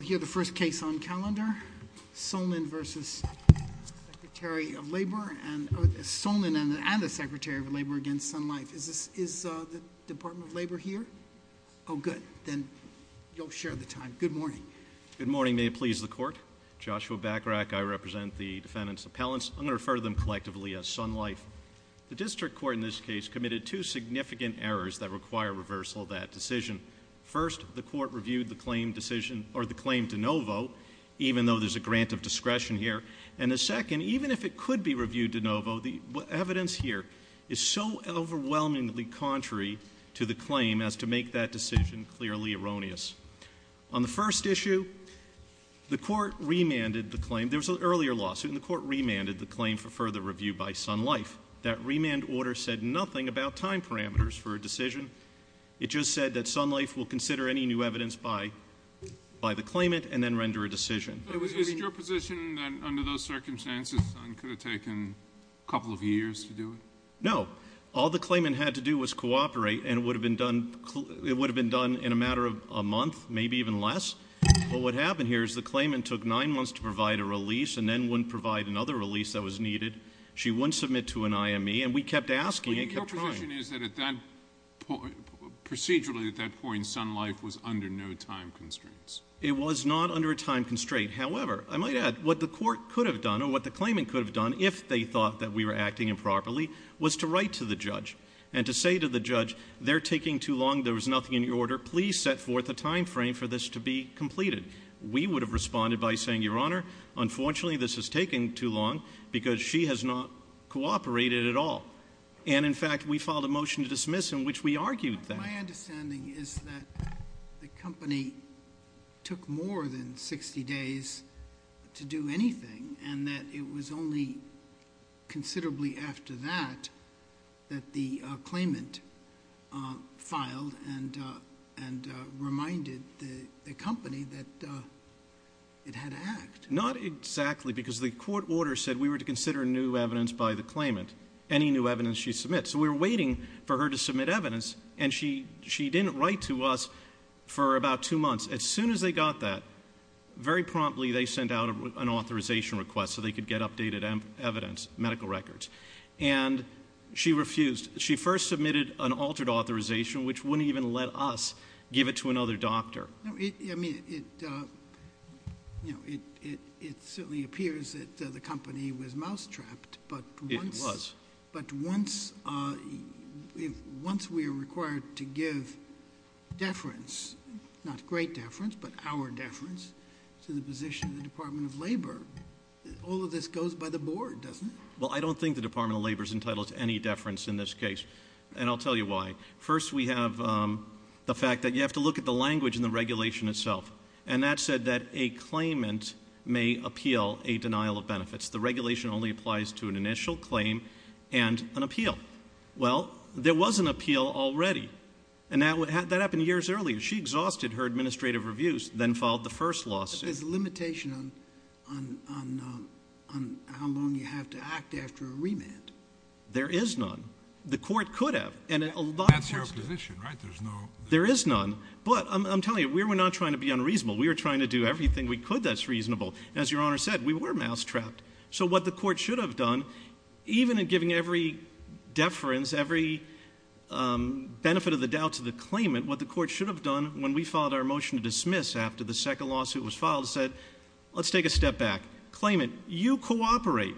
We have the first case on calendar, Solnin v. Secretary of Labor and the Secretary of Labor against Sun Life. Is the Department of Labor here? Oh good, then you'll share the time. Good morning. Good morning, may it please the court. Joshua Bachrach, I represent the defendant's appellants. I'm going to refer to them collectively as Sun Life. The district court in this case committed two significant errors that require reversal of that decision. First, the court reviewed the claim decision, or the claim de novo, even though there's a grant of discretion here. And the second, even if it could be reviewed de novo, the evidence here is so overwhelmingly contrary to the claim as to make that decision clearly erroneous. On the first issue, the court remanded the claim. There was an earlier lawsuit and the court remanded the claim for further review by Sun Life. That remand order said nothing about time parameters for a decision. It just said that Sun Life will consider any new evidence by the claimant and then render a decision. Is it your position that under those circumstances it could have taken a couple of years to do it? No. All the claimant had to do was cooperate and it would have been done in a matter of a month, maybe even less. But what happened here is the claimant took nine months to provide a release and then wouldn't provide another release that was needed. She wouldn't submit to an IME and we kept asking and kept trying. Your position is that procedurally at that point Sun Life was under no time constraints? It was not under a time constraint. However, I might add, what the court could have done or what the claimant could have done if they thought that we were acting improperly was to write to the judge and to say to the judge, they're taking too long, there was nothing in your order, please set forth a time frame for this to be completed. We would have responded by saying, Your Honor, unfortunately this is taking too long because she has not cooperated at all. And in fact we filed a motion to dismiss in which we argued that. My understanding is that the company took more than 60 days to do anything and that it was only considerably after that that the claimant filed and reminded the company that it had to act. Not exactly because the court order said we were to consider new evidence by the claimant, any new evidence she submits. So we were waiting for her to submit evidence and she didn't write to us for about two months. As soon as they got that, very promptly they sent out an authorization request so they could get updated evidence, medical records. And she refused. She first submitted an altered authorization which wouldn't even let us give it to another doctor. I mean, it certainly appears that the company was mousetrapped. It was. But once we are required to give deference, not great deference, but our deference to the position of the Department of Labor, all of this goes by the board, doesn't it? Well, I don't think the Department of Labor is entitled to any deference in this case. And I'll tell you why. First, we have the fact that you have to look at the language in the regulation itself. And that said that a claimant may appeal a denial of benefits. The regulation only applies to an initial claim and an appeal. Well, there was an appeal already. And that happened years earlier. She exhausted her administrative reviews, then filed the first lawsuit. There's a limitation on how long you have to act after a remand. There is none. The court could have. That's your position, right? There is none. But I'm telling you, we were not trying to be unreasonable. We were trying to do everything we could that's reasonable. As Your Honor said, we were mousetrapped. So what the court should have done, even in giving every deference, every benefit of the doubt to the claimant, what the court should have done when we filed our motion to dismiss after the second lawsuit was filed, is said, let's take a step back. Claimant, you cooperate.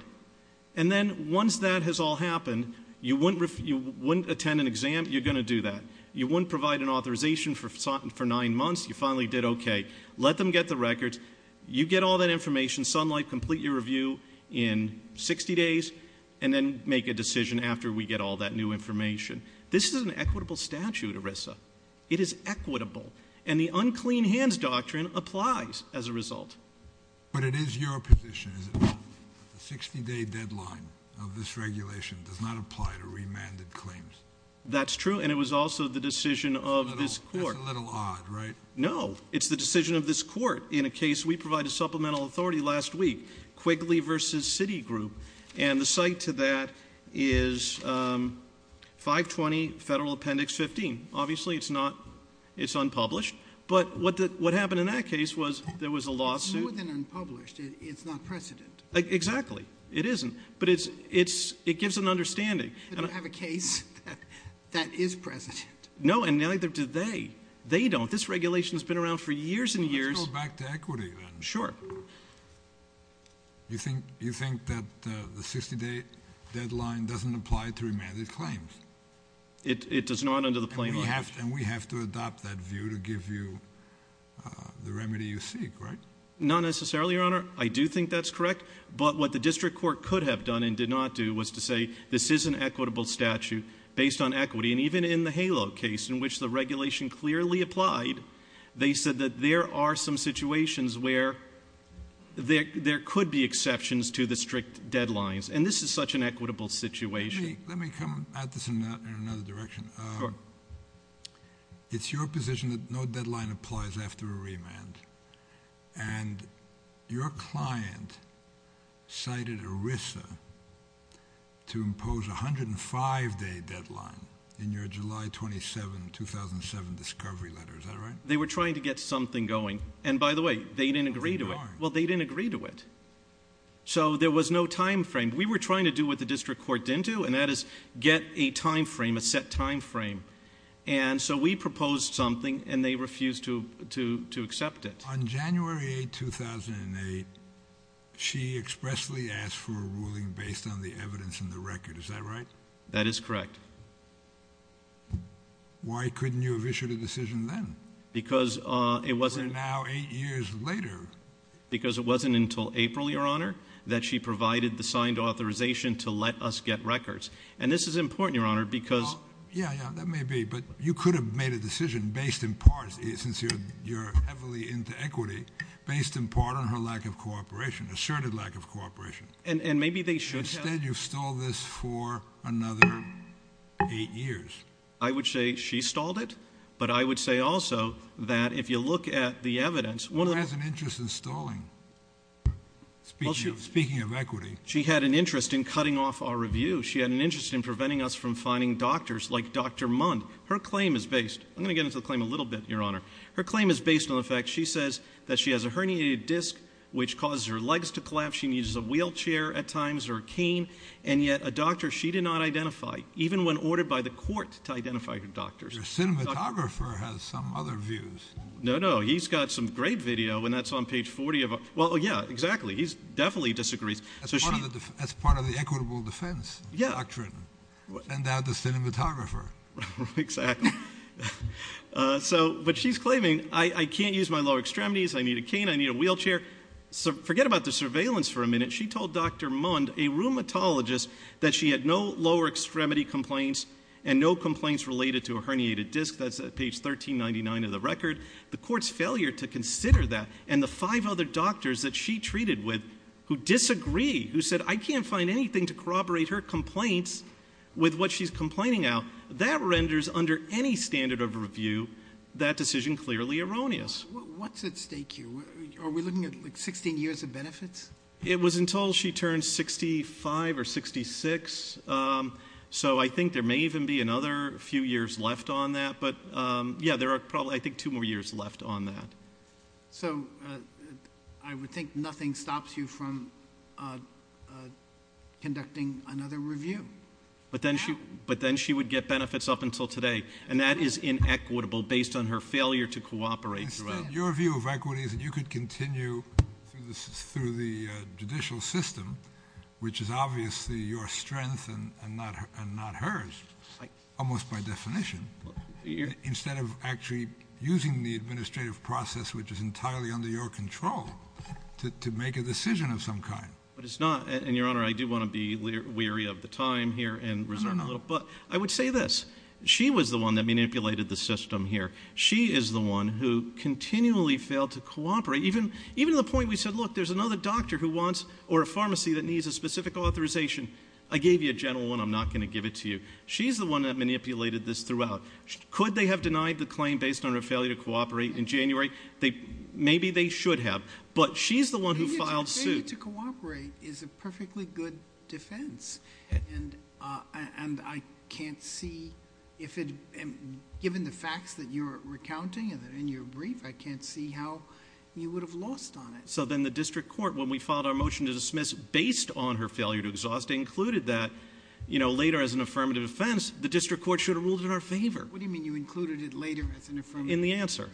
And then once that has all happened, you wouldn't attend an exam. You're going to do that. You wouldn't provide an authorization for nine months. You finally did okay. Let them get the records. You get all that information. Sunlight, complete your review in 60 days. And then make a decision after we get all that new information. This is an equitable statute, ERISA. It is equitable. And the unclean hands doctrine applies as a result. But it is your position, is it not, that the 60-day deadline of this regulation does not apply to remanded claims? That's true. And it was also the decision of this court. No. It's the decision of this court. In a case, we provided supplemental authority last week, Quigley v. Citigroup. And the site to that is 520 Federal Appendix 15. Obviously, it's unpublished. But what happened in that case was there was a lawsuit. It's more than unpublished. It's not precedent. Exactly. It isn't. But it gives an understanding. They don't have a case that is precedent. No, and neither do they. They don't. This regulation has been around for years and years. Let's go back to equity, then. Sure. You think that the 60-day deadline doesn't apply to remanded claims? It does not under the plain language. And we have to adopt that view to give you the remedy you seek, right? Not necessarily, Your Honor. I do think that's correct. But what the district court could have done and did not do was to say this is an equitable statute based on equity. And even in the HALO case, in which the regulation clearly applied, they said that there are some situations where there could be exceptions to the strict deadlines. And this is such an equitable situation. Let me come at this in another direction. Sure. And your client cited ERISA to impose a 105-day deadline in your July 27, 2007, discovery letter. Is that right? They were trying to get something going. And, by the way, they didn't agree to it. Well, they didn't agree to it. So there was no time frame. We were trying to do what the district court didn't do, and that is get a time frame, a set time frame. And so we proposed something, and they refused to accept it. On January 8, 2008, she expressly asked for a ruling based on the evidence in the record. Is that right? That is correct. Why couldn't you have issued a decision then? Because it wasn't until April, Your Honor, that she provided the signed authorization to let us get records. And this is important, Your Honor, because Yeah, yeah, that may be, but you could have made a decision based in part, since you're heavily into equity, based in part on her lack of cooperation, asserted lack of cooperation. And maybe they should have. Instead, you've stalled this for another eight years. I would say she stalled it, but I would say also that if you look at the evidence, one of the Who has an interest in stalling, speaking of equity? She had an interest in cutting off our review. She had an interest in preventing us from finding doctors like Dr. Mund. Her claim is based. I'm going to get into the claim a little bit, Your Honor. Her claim is based on the fact she says that she has a herniated disc, which causes her legs to collapse. She needs a wheelchair at times or a cane. And yet a doctor she did not identify, even when ordered by the court to identify her doctors. Your cinematographer has some other views. No, no. He's got some great video, and that's on page 40 of our Well, yeah, exactly. He definitely disagrees. As part of the equitable defense doctrine. And now the cinematographer. Exactly. But she's claiming, I can't use my lower extremities. I need a cane. I need a wheelchair. Forget about the surveillance for a minute. She told Dr. Mund, a rheumatologist, that she had no lower extremity complaints and no complaints related to a herniated disc. That's page 1399 of the record. The court's failure to consider that and the five other doctors that she treated with who disagree. Who said, I can't find anything to corroborate her complaints with what she's complaining of. That renders, under any standard of review, that decision clearly erroneous. What's at stake here? Are we looking at 16 years of benefits? It was until she turned 65 or 66. So I think there may even be another few years left on that. But, yeah, there are probably, I think, two more years left on that. So I would think nothing stops you from conducting another review. But then she would get benefits up until today. And that is inequitable based on her failure to cooperate. Your view of equity is that you could continue through the judicial system, which is obviously your strength and not hers. Almost by definition. Instead of actually using the administrative process, which is entirely under your control, to make a decision of some kind. But it's not. And, Your Honor, I do want to be weary of the time here and reserve a little. But I would say this. She was the one that manipulated the system here. She is the one who continually failed to cooperate. Even to the point we said, look, there's another doctor who wants or a pharmacy that needs a specific authorization. I gave you a general one. I'm not going to give it to you. She's the one that manipulated this throughout. Could they have denied the claim based on her failure to cooperate in January? Maybe they should have. But she's the one who filed suit. Failure to cooperate is a perfectly good defense. And I can't see if it, given the facts that you're recounting in your brief, I can't see how you would have lost on it. So then the district court, when we filed our motion to dismiss based on her failure to exhaust, included that later as an affirmative defense, the district court should have ruled in our favor. What do you mean you included it later as an affirmative defense? In the answer.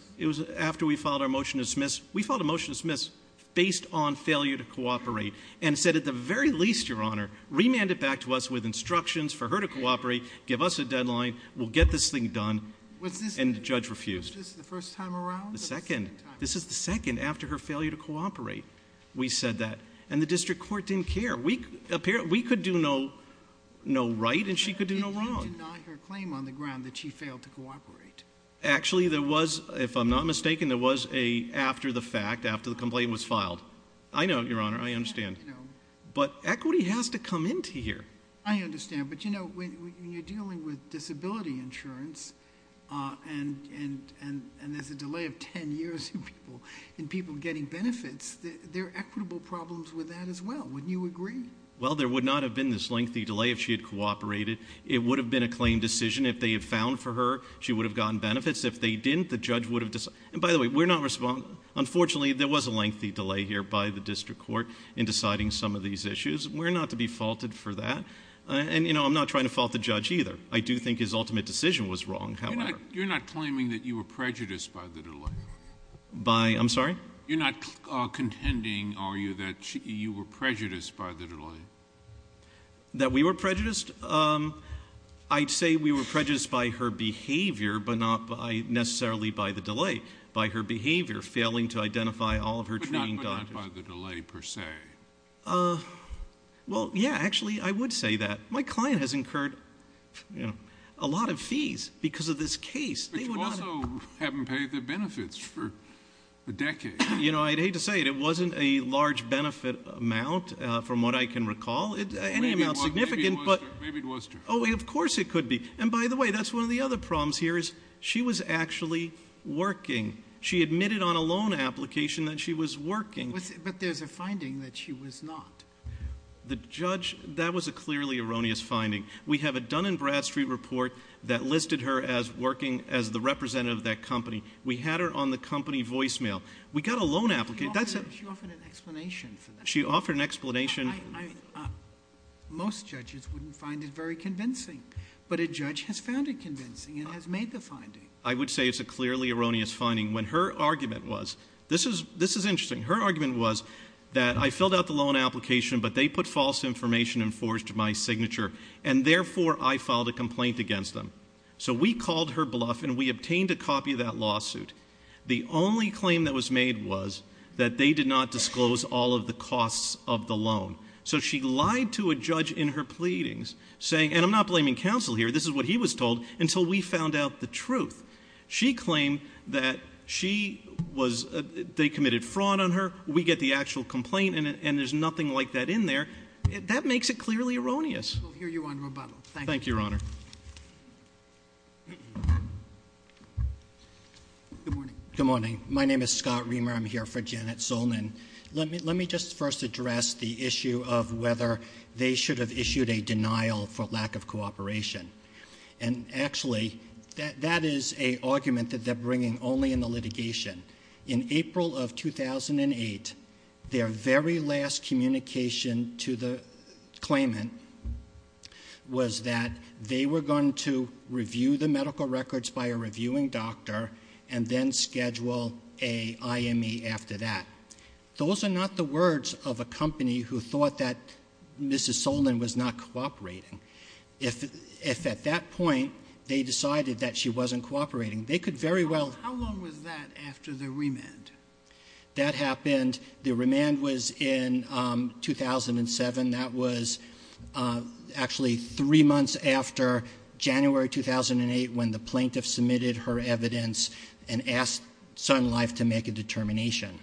After we filed our motion to dismiss, we filed a motion to dismiss based on failure to cooperate and said at the very least, Your Honor, remand it back to us with instructions for her to cooperate, give us a deadline, we'll get this thing done, and the judge refused. Was this the first time around? The second. This is the second after her failure to cooperate we said that. And the district court didn't care. We could do no right and she could do no wrong. But you didn't deny her claim on the ground that she failed to cooperate. Actually, there was, if I'm not mistaken, there was a after the fact, after the complaint was filed. I know, Your Honor, I understand. But equity has to come into here. I understand. But, you know, when you're dealing with disability insurance and there's a delay of 10 years in people getting benefits, there are equitable problems with that as well. Wouldn't you agree? Well, there would not have been this lengthy delay if she had cooperated. It would have been a claim decision. If they had found for her, she would have gotten benefits. If they didn't, the judge would have decided. And, by the way, we're not responsible. Unfortunately, there was a lengthy delay here by the district court in deciding some of these issues. We're not to be faulted for that. And, you know, I'm not trying to fault the judge either. I do think his ultimate decision was wrong, however. You're not claiming that you were prejudiced by the delay? By, I'm sorry? You're not contending, are you, that you were prejudiced by the delay? That we were prejudiced? I'd say we were prejudiced by her behavior, but not necessarily by the delay. By her behavior, failing to identify all of her trained doctors. But not by the delay per se? Well, yeah, actually, I would say that. My client has incurred a lot of fees because of this case. But you also haven't paid the benefits for a decade. You know, I'd hate to say it. It wasn't a large benefit amount, from what I can recall. Any amount significant. Maybe it was to her. Oh, of course it could be. And, by the way, that's one of the other problems here is she was actually working. She admitted on a loan application that she was working. But there's a finding that she was not. The judge, that was a clearly erroneous finding. We have a Dun & Bradstreet report that listed her as working as the representative of that company. We had her on the company voicemail. We got a loan application. She offered an explanation for that. She offered an explanation. Most judges wouldn't find it very convincing. But a judge has found it convincing and has made the finding. I would say it's a clearly erroneous finding. When her argument was, this is interesting, her argument was that I filled out the loan application, but they put false information and forged my signature. And, therefore, I filed a complaint against them. So we called her bluff and we obtained a copy of that lawsuit. The only claim that was made was that they did not disclose all of the costs of the loan. So she lied to a judge in her pleadings, saying, and I'm not blaming counsel here, this is what he was told, until we found out the truth. She claimed that she was, they committed fraud on her, we get the actual complaint, and there's nothing like that in there. That makes it clearly erroneous. We'll hear you on rebuttal. Thank you, Your Honor. Good morning. Good morning. My name is Scott Reamer. I'm here for Janet Zolnan. Let me just first address the issue of whether they should have issued a denial for lack of cooperation. And, actually, that is an argument that they're bringing only in the litigation. In April of 2008, their very last communication to the claimant was that they were going to review the medical records by a reviewing doctor and then schedule a IME after that. Those are not the words of a company who thought that Mrs. Zolnan was not cooperating. If at that point they decided that she wasn't cooperating, they could very well How long was that after the remand? That happened, the remand was in 2007. That was actually three months after January 2008 when the plaintiff submitted her evidence and asked Sun Life to make a determination.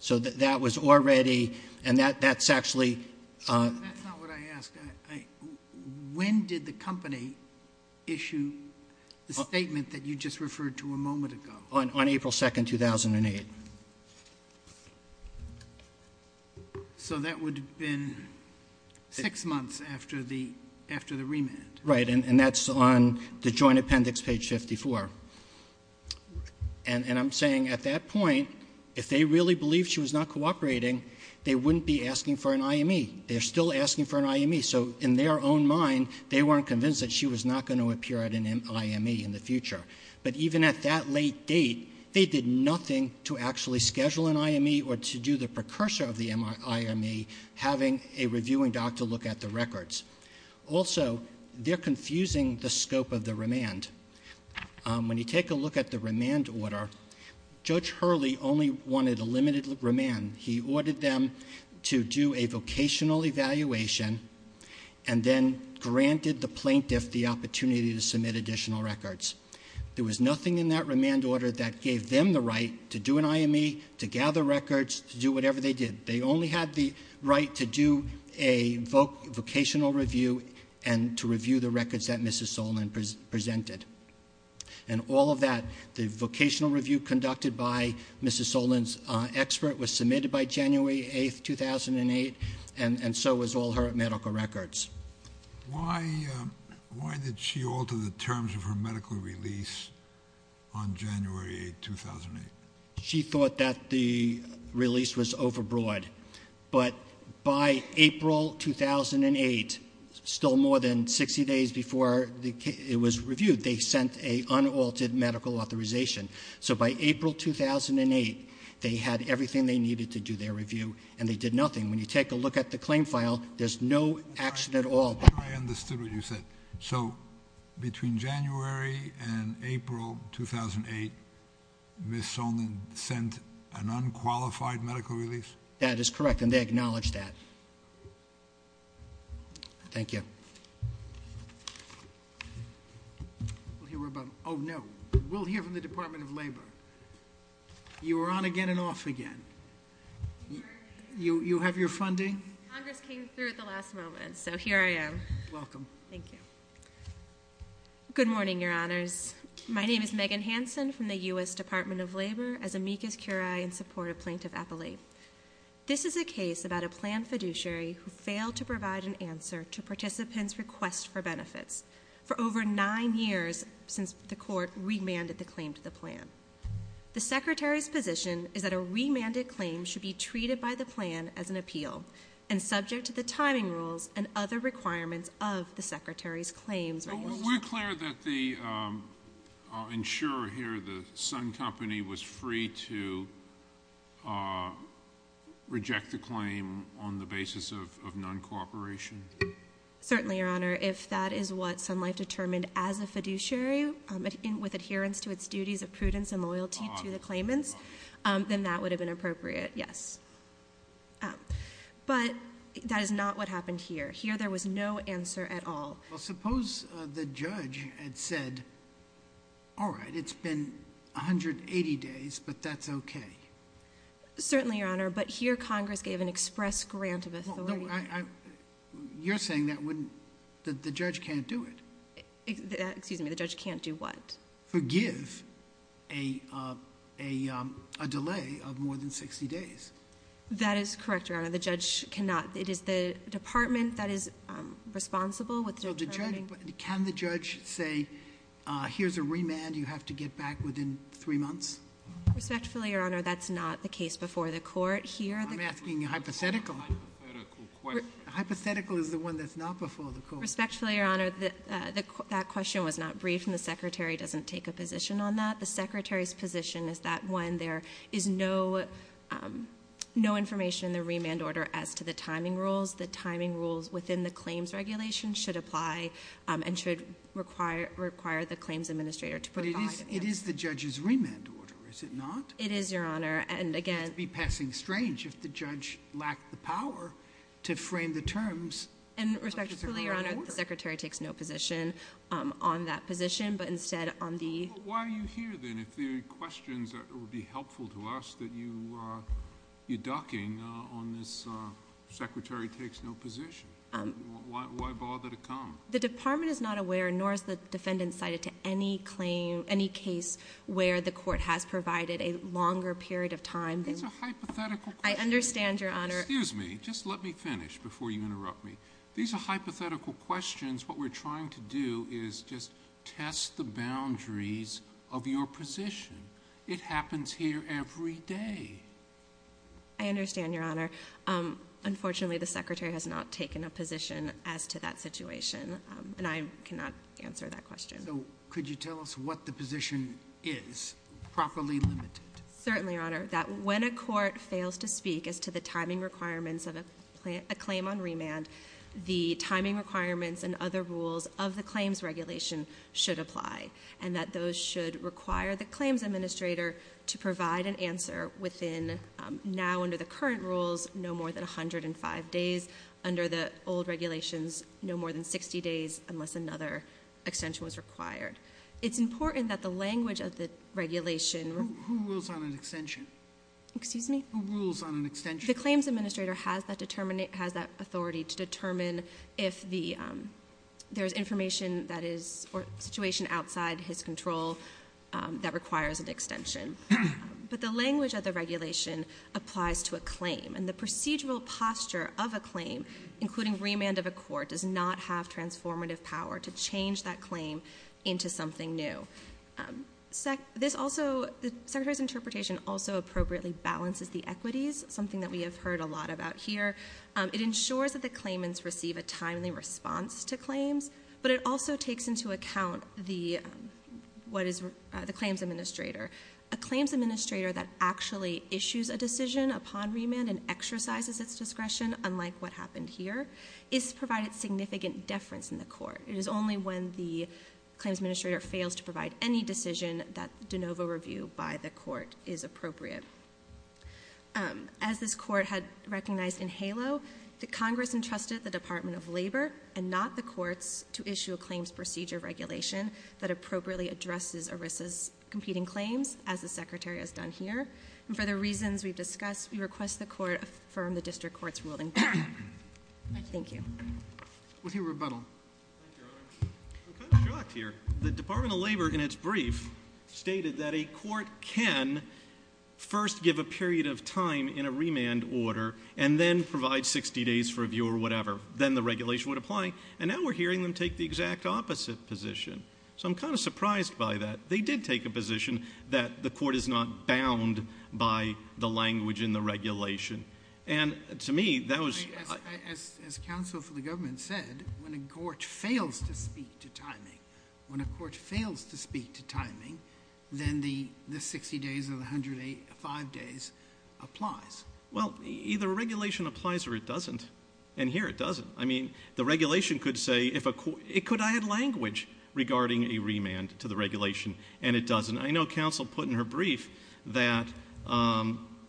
So that was already, and that's actually That's not what I asked. When did the company issue the statement that you just referred to a moment ago? On April 2, 2008. So that would have been six months after the remand. Right, and that's on the joint appendix, page 54. And I'm saying at that point, if they really believed she was not cooperating, they wouldn't be asking for an IME. They're still asking for an IME, so in their own mind, they weren't convinced that she was not going to appear at an IME in the future. But even at that late date, they did nothing to actually schedule an IME or to do the precursor of the IME, having a reviewing doctor look at the records. Also, they're confusing the scope of the remand. When you take a look at the remand order, Judge Hurley only wanted a limited remand. He ordered them to do a vocational evaluation and then granted the plaintiff the opportunity to submit additional records. There was nothing in that remand order that gave them the right to do an IME, to gather records, to do whatever they did. They only had the right to do a vocational review and to review the records that Mrs. Solon presented. And all of that, the vocational review conducted by Mrs. Solon's expert, was submitted by January 8, 2008, and so was all her medical records. Why did she alter the terms of her medical release on January 8, 2008? She thought that the release was overbroad. But by April 2008, still more than 60 days before it was reviewed, they sent an unaltered medical authorization. So by April 2008, they had everything they needed to do their review, and they did nothing. When you take a look at the claim file, there's no action at all. I understood what you said. So between January and April 2008, Mrs. Solon sent an unqualified medical release? That is correct, and they acknowledged that. Thank you. We'll hear from the Department of Labor. You are on again and off again. You have your funding? Congress came through at the last moment, so here I am. Welcome. Thank you. Good morning, Your Honors. My name is Megan Hansen from the U.S. Department of Labor, as amicus curiae in support of Plaintiff Appellate. This is a case about a plan fiduciary who failed to provide an answer to participants' request for benefits for over nine years since the court remanded the claim to the plan. The Secretary's position is that a remanded claim should be treated by the plan as an appeal and subject to the timing rules and other requirements of the Secretary's claims. We're clear that the insurer here, the Sun Company, was free to reject the claim on the basis of non-cooperation? Certainly, Your Honor. If that is what Sun Life determined as a fiduciary with adherence to its duties of prudence and loyalty to the claimants, then that would have been appropriate, yes. But that is not what happened here. Here there was no answer at all. Well, suppose the judge had said, all right, it's been 180 days, but that's okay. Certainly, Your Honor, but here Congress gave an express grant of authority. You're saying that the judge can't do it? Excuse me, the judge can't do what? Forgive a delay of more than 60 days. That is correct, Your Honor. It is the department that is responsible with determining? Can the judge say, here's a remand, you have to get back within three months? Respectfully, Your Honor, that's not the case before the court here. I'm asking hypothetical. Hypothetical is the one that's not before the court. Respectfully, Your Honor, that question was not briefed, and the Secretary doesn't take a position on that. The Secretary's position is that when there is no information in the remand order as to the timing rules, the timing rules within the claims regulation should apply and should require the claims administrator to provide it. But it is the judge's remand order, is it not? It is, Your Honor, and again— It would be passing strange if the judge lacked the power to frame the terms of the remand order. Respectfully, Your Honor, the Secretary takes no position on that position, but instead on the— But why are you here, then? If the questions that would be helpful to us that you're ducking on this Secretary takes no position, why bother to come? The department is not aware, nor is the defendant cited, to any claim, any case where the court has provided a longer period of time than— These are hypothetical questions. I understand, Your Honor. Excuse me. Just let me finish before you interrupt me. These are hypothetical questions. What we're trying to do is just test the boundaries of your position. It happens here every day. I understand, Your Honor. Unfortunately, the Secretary has not taken a position as to that situation, and I cannot answer that question. So could you tell us what the position is, properly limited? Certainly, Your Honor, that when a court fails to speak as to the timing requirements of a claim on remand, the timing requirements and other rules of the claims regulation should apply, and that those should require the claims administrator to provide an answer within, now under the current rules, no more than 105 days. Under the old regulations, no more than 60 days, unless another extension was required. It's important that the language of the regulation— Who rules on an extension? Excuse me? Who rules on an extension? The claims administrator has that authority to determine if there's information that is— or situation outside his control that requires an extension. But the language of the regulation applies to a claim, and the procedural posture of a claim, including remand of a court, does not have transformative power to change that claim into something new. The Secretary's interpretation also appropriately balances the equities, something that we have heard a lot about here. It ensures that the claimants receive a timely response to claims, but it also takes into account the claims administrator. A claims administrator that actually issues a decision upon remand and exercises its discretion, unlike what happened here, is provided significant deference in the court. It is only when the claims administrator fails to provide any decision that de novo review by the court is appropriate. As this court had recognized in HALO, the Congress entrusted the Department of Labor and not the courts to issue a claims procedure regulation that appropriately addresses ERISA's competing claims, as the Secretary has done here. And for the reasons we've discussed, we request the court affirm the district court's ruling. Thank you. We'll hear rebuttal. I'm kind of shocked here. The Department of Labor, in its brief, stated that a court can first give a period of time in a remand order and then provide 60 days for review or whatever. Then the regulation would apply. And now we're hearing them take the exact opposite position. So I'm kind of surprised by that. They did take a position that the court is not bound by the language in the regulation. And to me, that was— As counsel for the government said, when a court fails to speak to timing, when a court fails to speak to timing, then the 60 days or the 105 days applies. Well, either a regulation applies or it doesn't. And here it doesn't. I mean, the regulation could say if a court—it could add language regarding a remand to the regulation. And it doesn't. I know counsel put in her brief that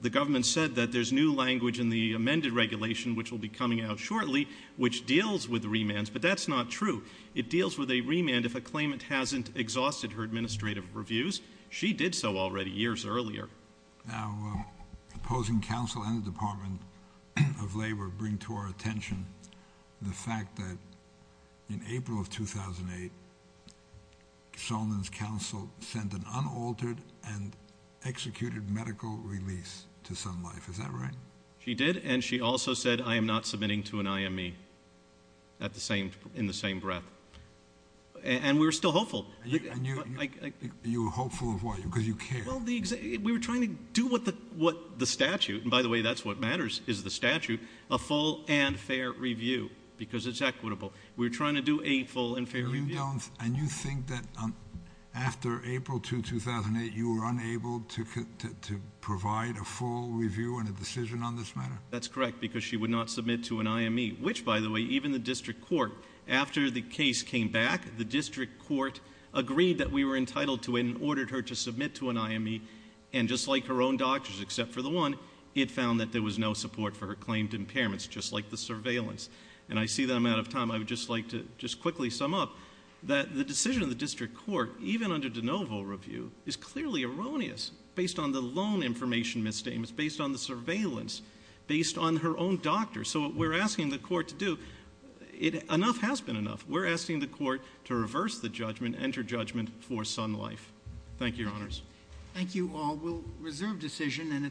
the government said that there's new language in the amended regulation, which will be coming out shortly, which deals with remands. But that's not true. It deals with a remand if a claimant hasn't exhausted her administrative reviews. She did so already years earlier. Now, opposing counsel and the Department of Labor bring to our attention the fact that in April of 2008, Solomon's counsel sent an unaltered and executed medical release to Sun Life. Is that right? She did. And she also said, I am not submitting to an IME in the same breath. And we were still hopeful. You were hopeful of what? Because you care. Well, we were trying to do what the statute—and by the way, that's what matters, is the statute, a full and fair review, because it's equitable. We were trying to do a full and fair review. And you think that after April 2, 2008, you were unable to provide a full review and a decision on this matter? That's correct, because she would not submit to an IME. Which, by the way, even the district court, after the case came back, the district court agreed that we were entitled to it and ordered her to submit to an IME. And just like her own doctors, except for the one, it found that there was no support for her claimed impairments, just like the surveillance. And I see that I'm out of time. I would just like to just quickly sum up that the decision of the district court, even under de novo review, is clearly erroneous based on the loan information misstatements, based on the surveillance, based on her own doctors. So what we're asking the court to do—enough has been enough. We're asking the court to reverse the judgment, enter judgment for son life. Thank you, Your Honors. Thank you all. We'll reserve decision.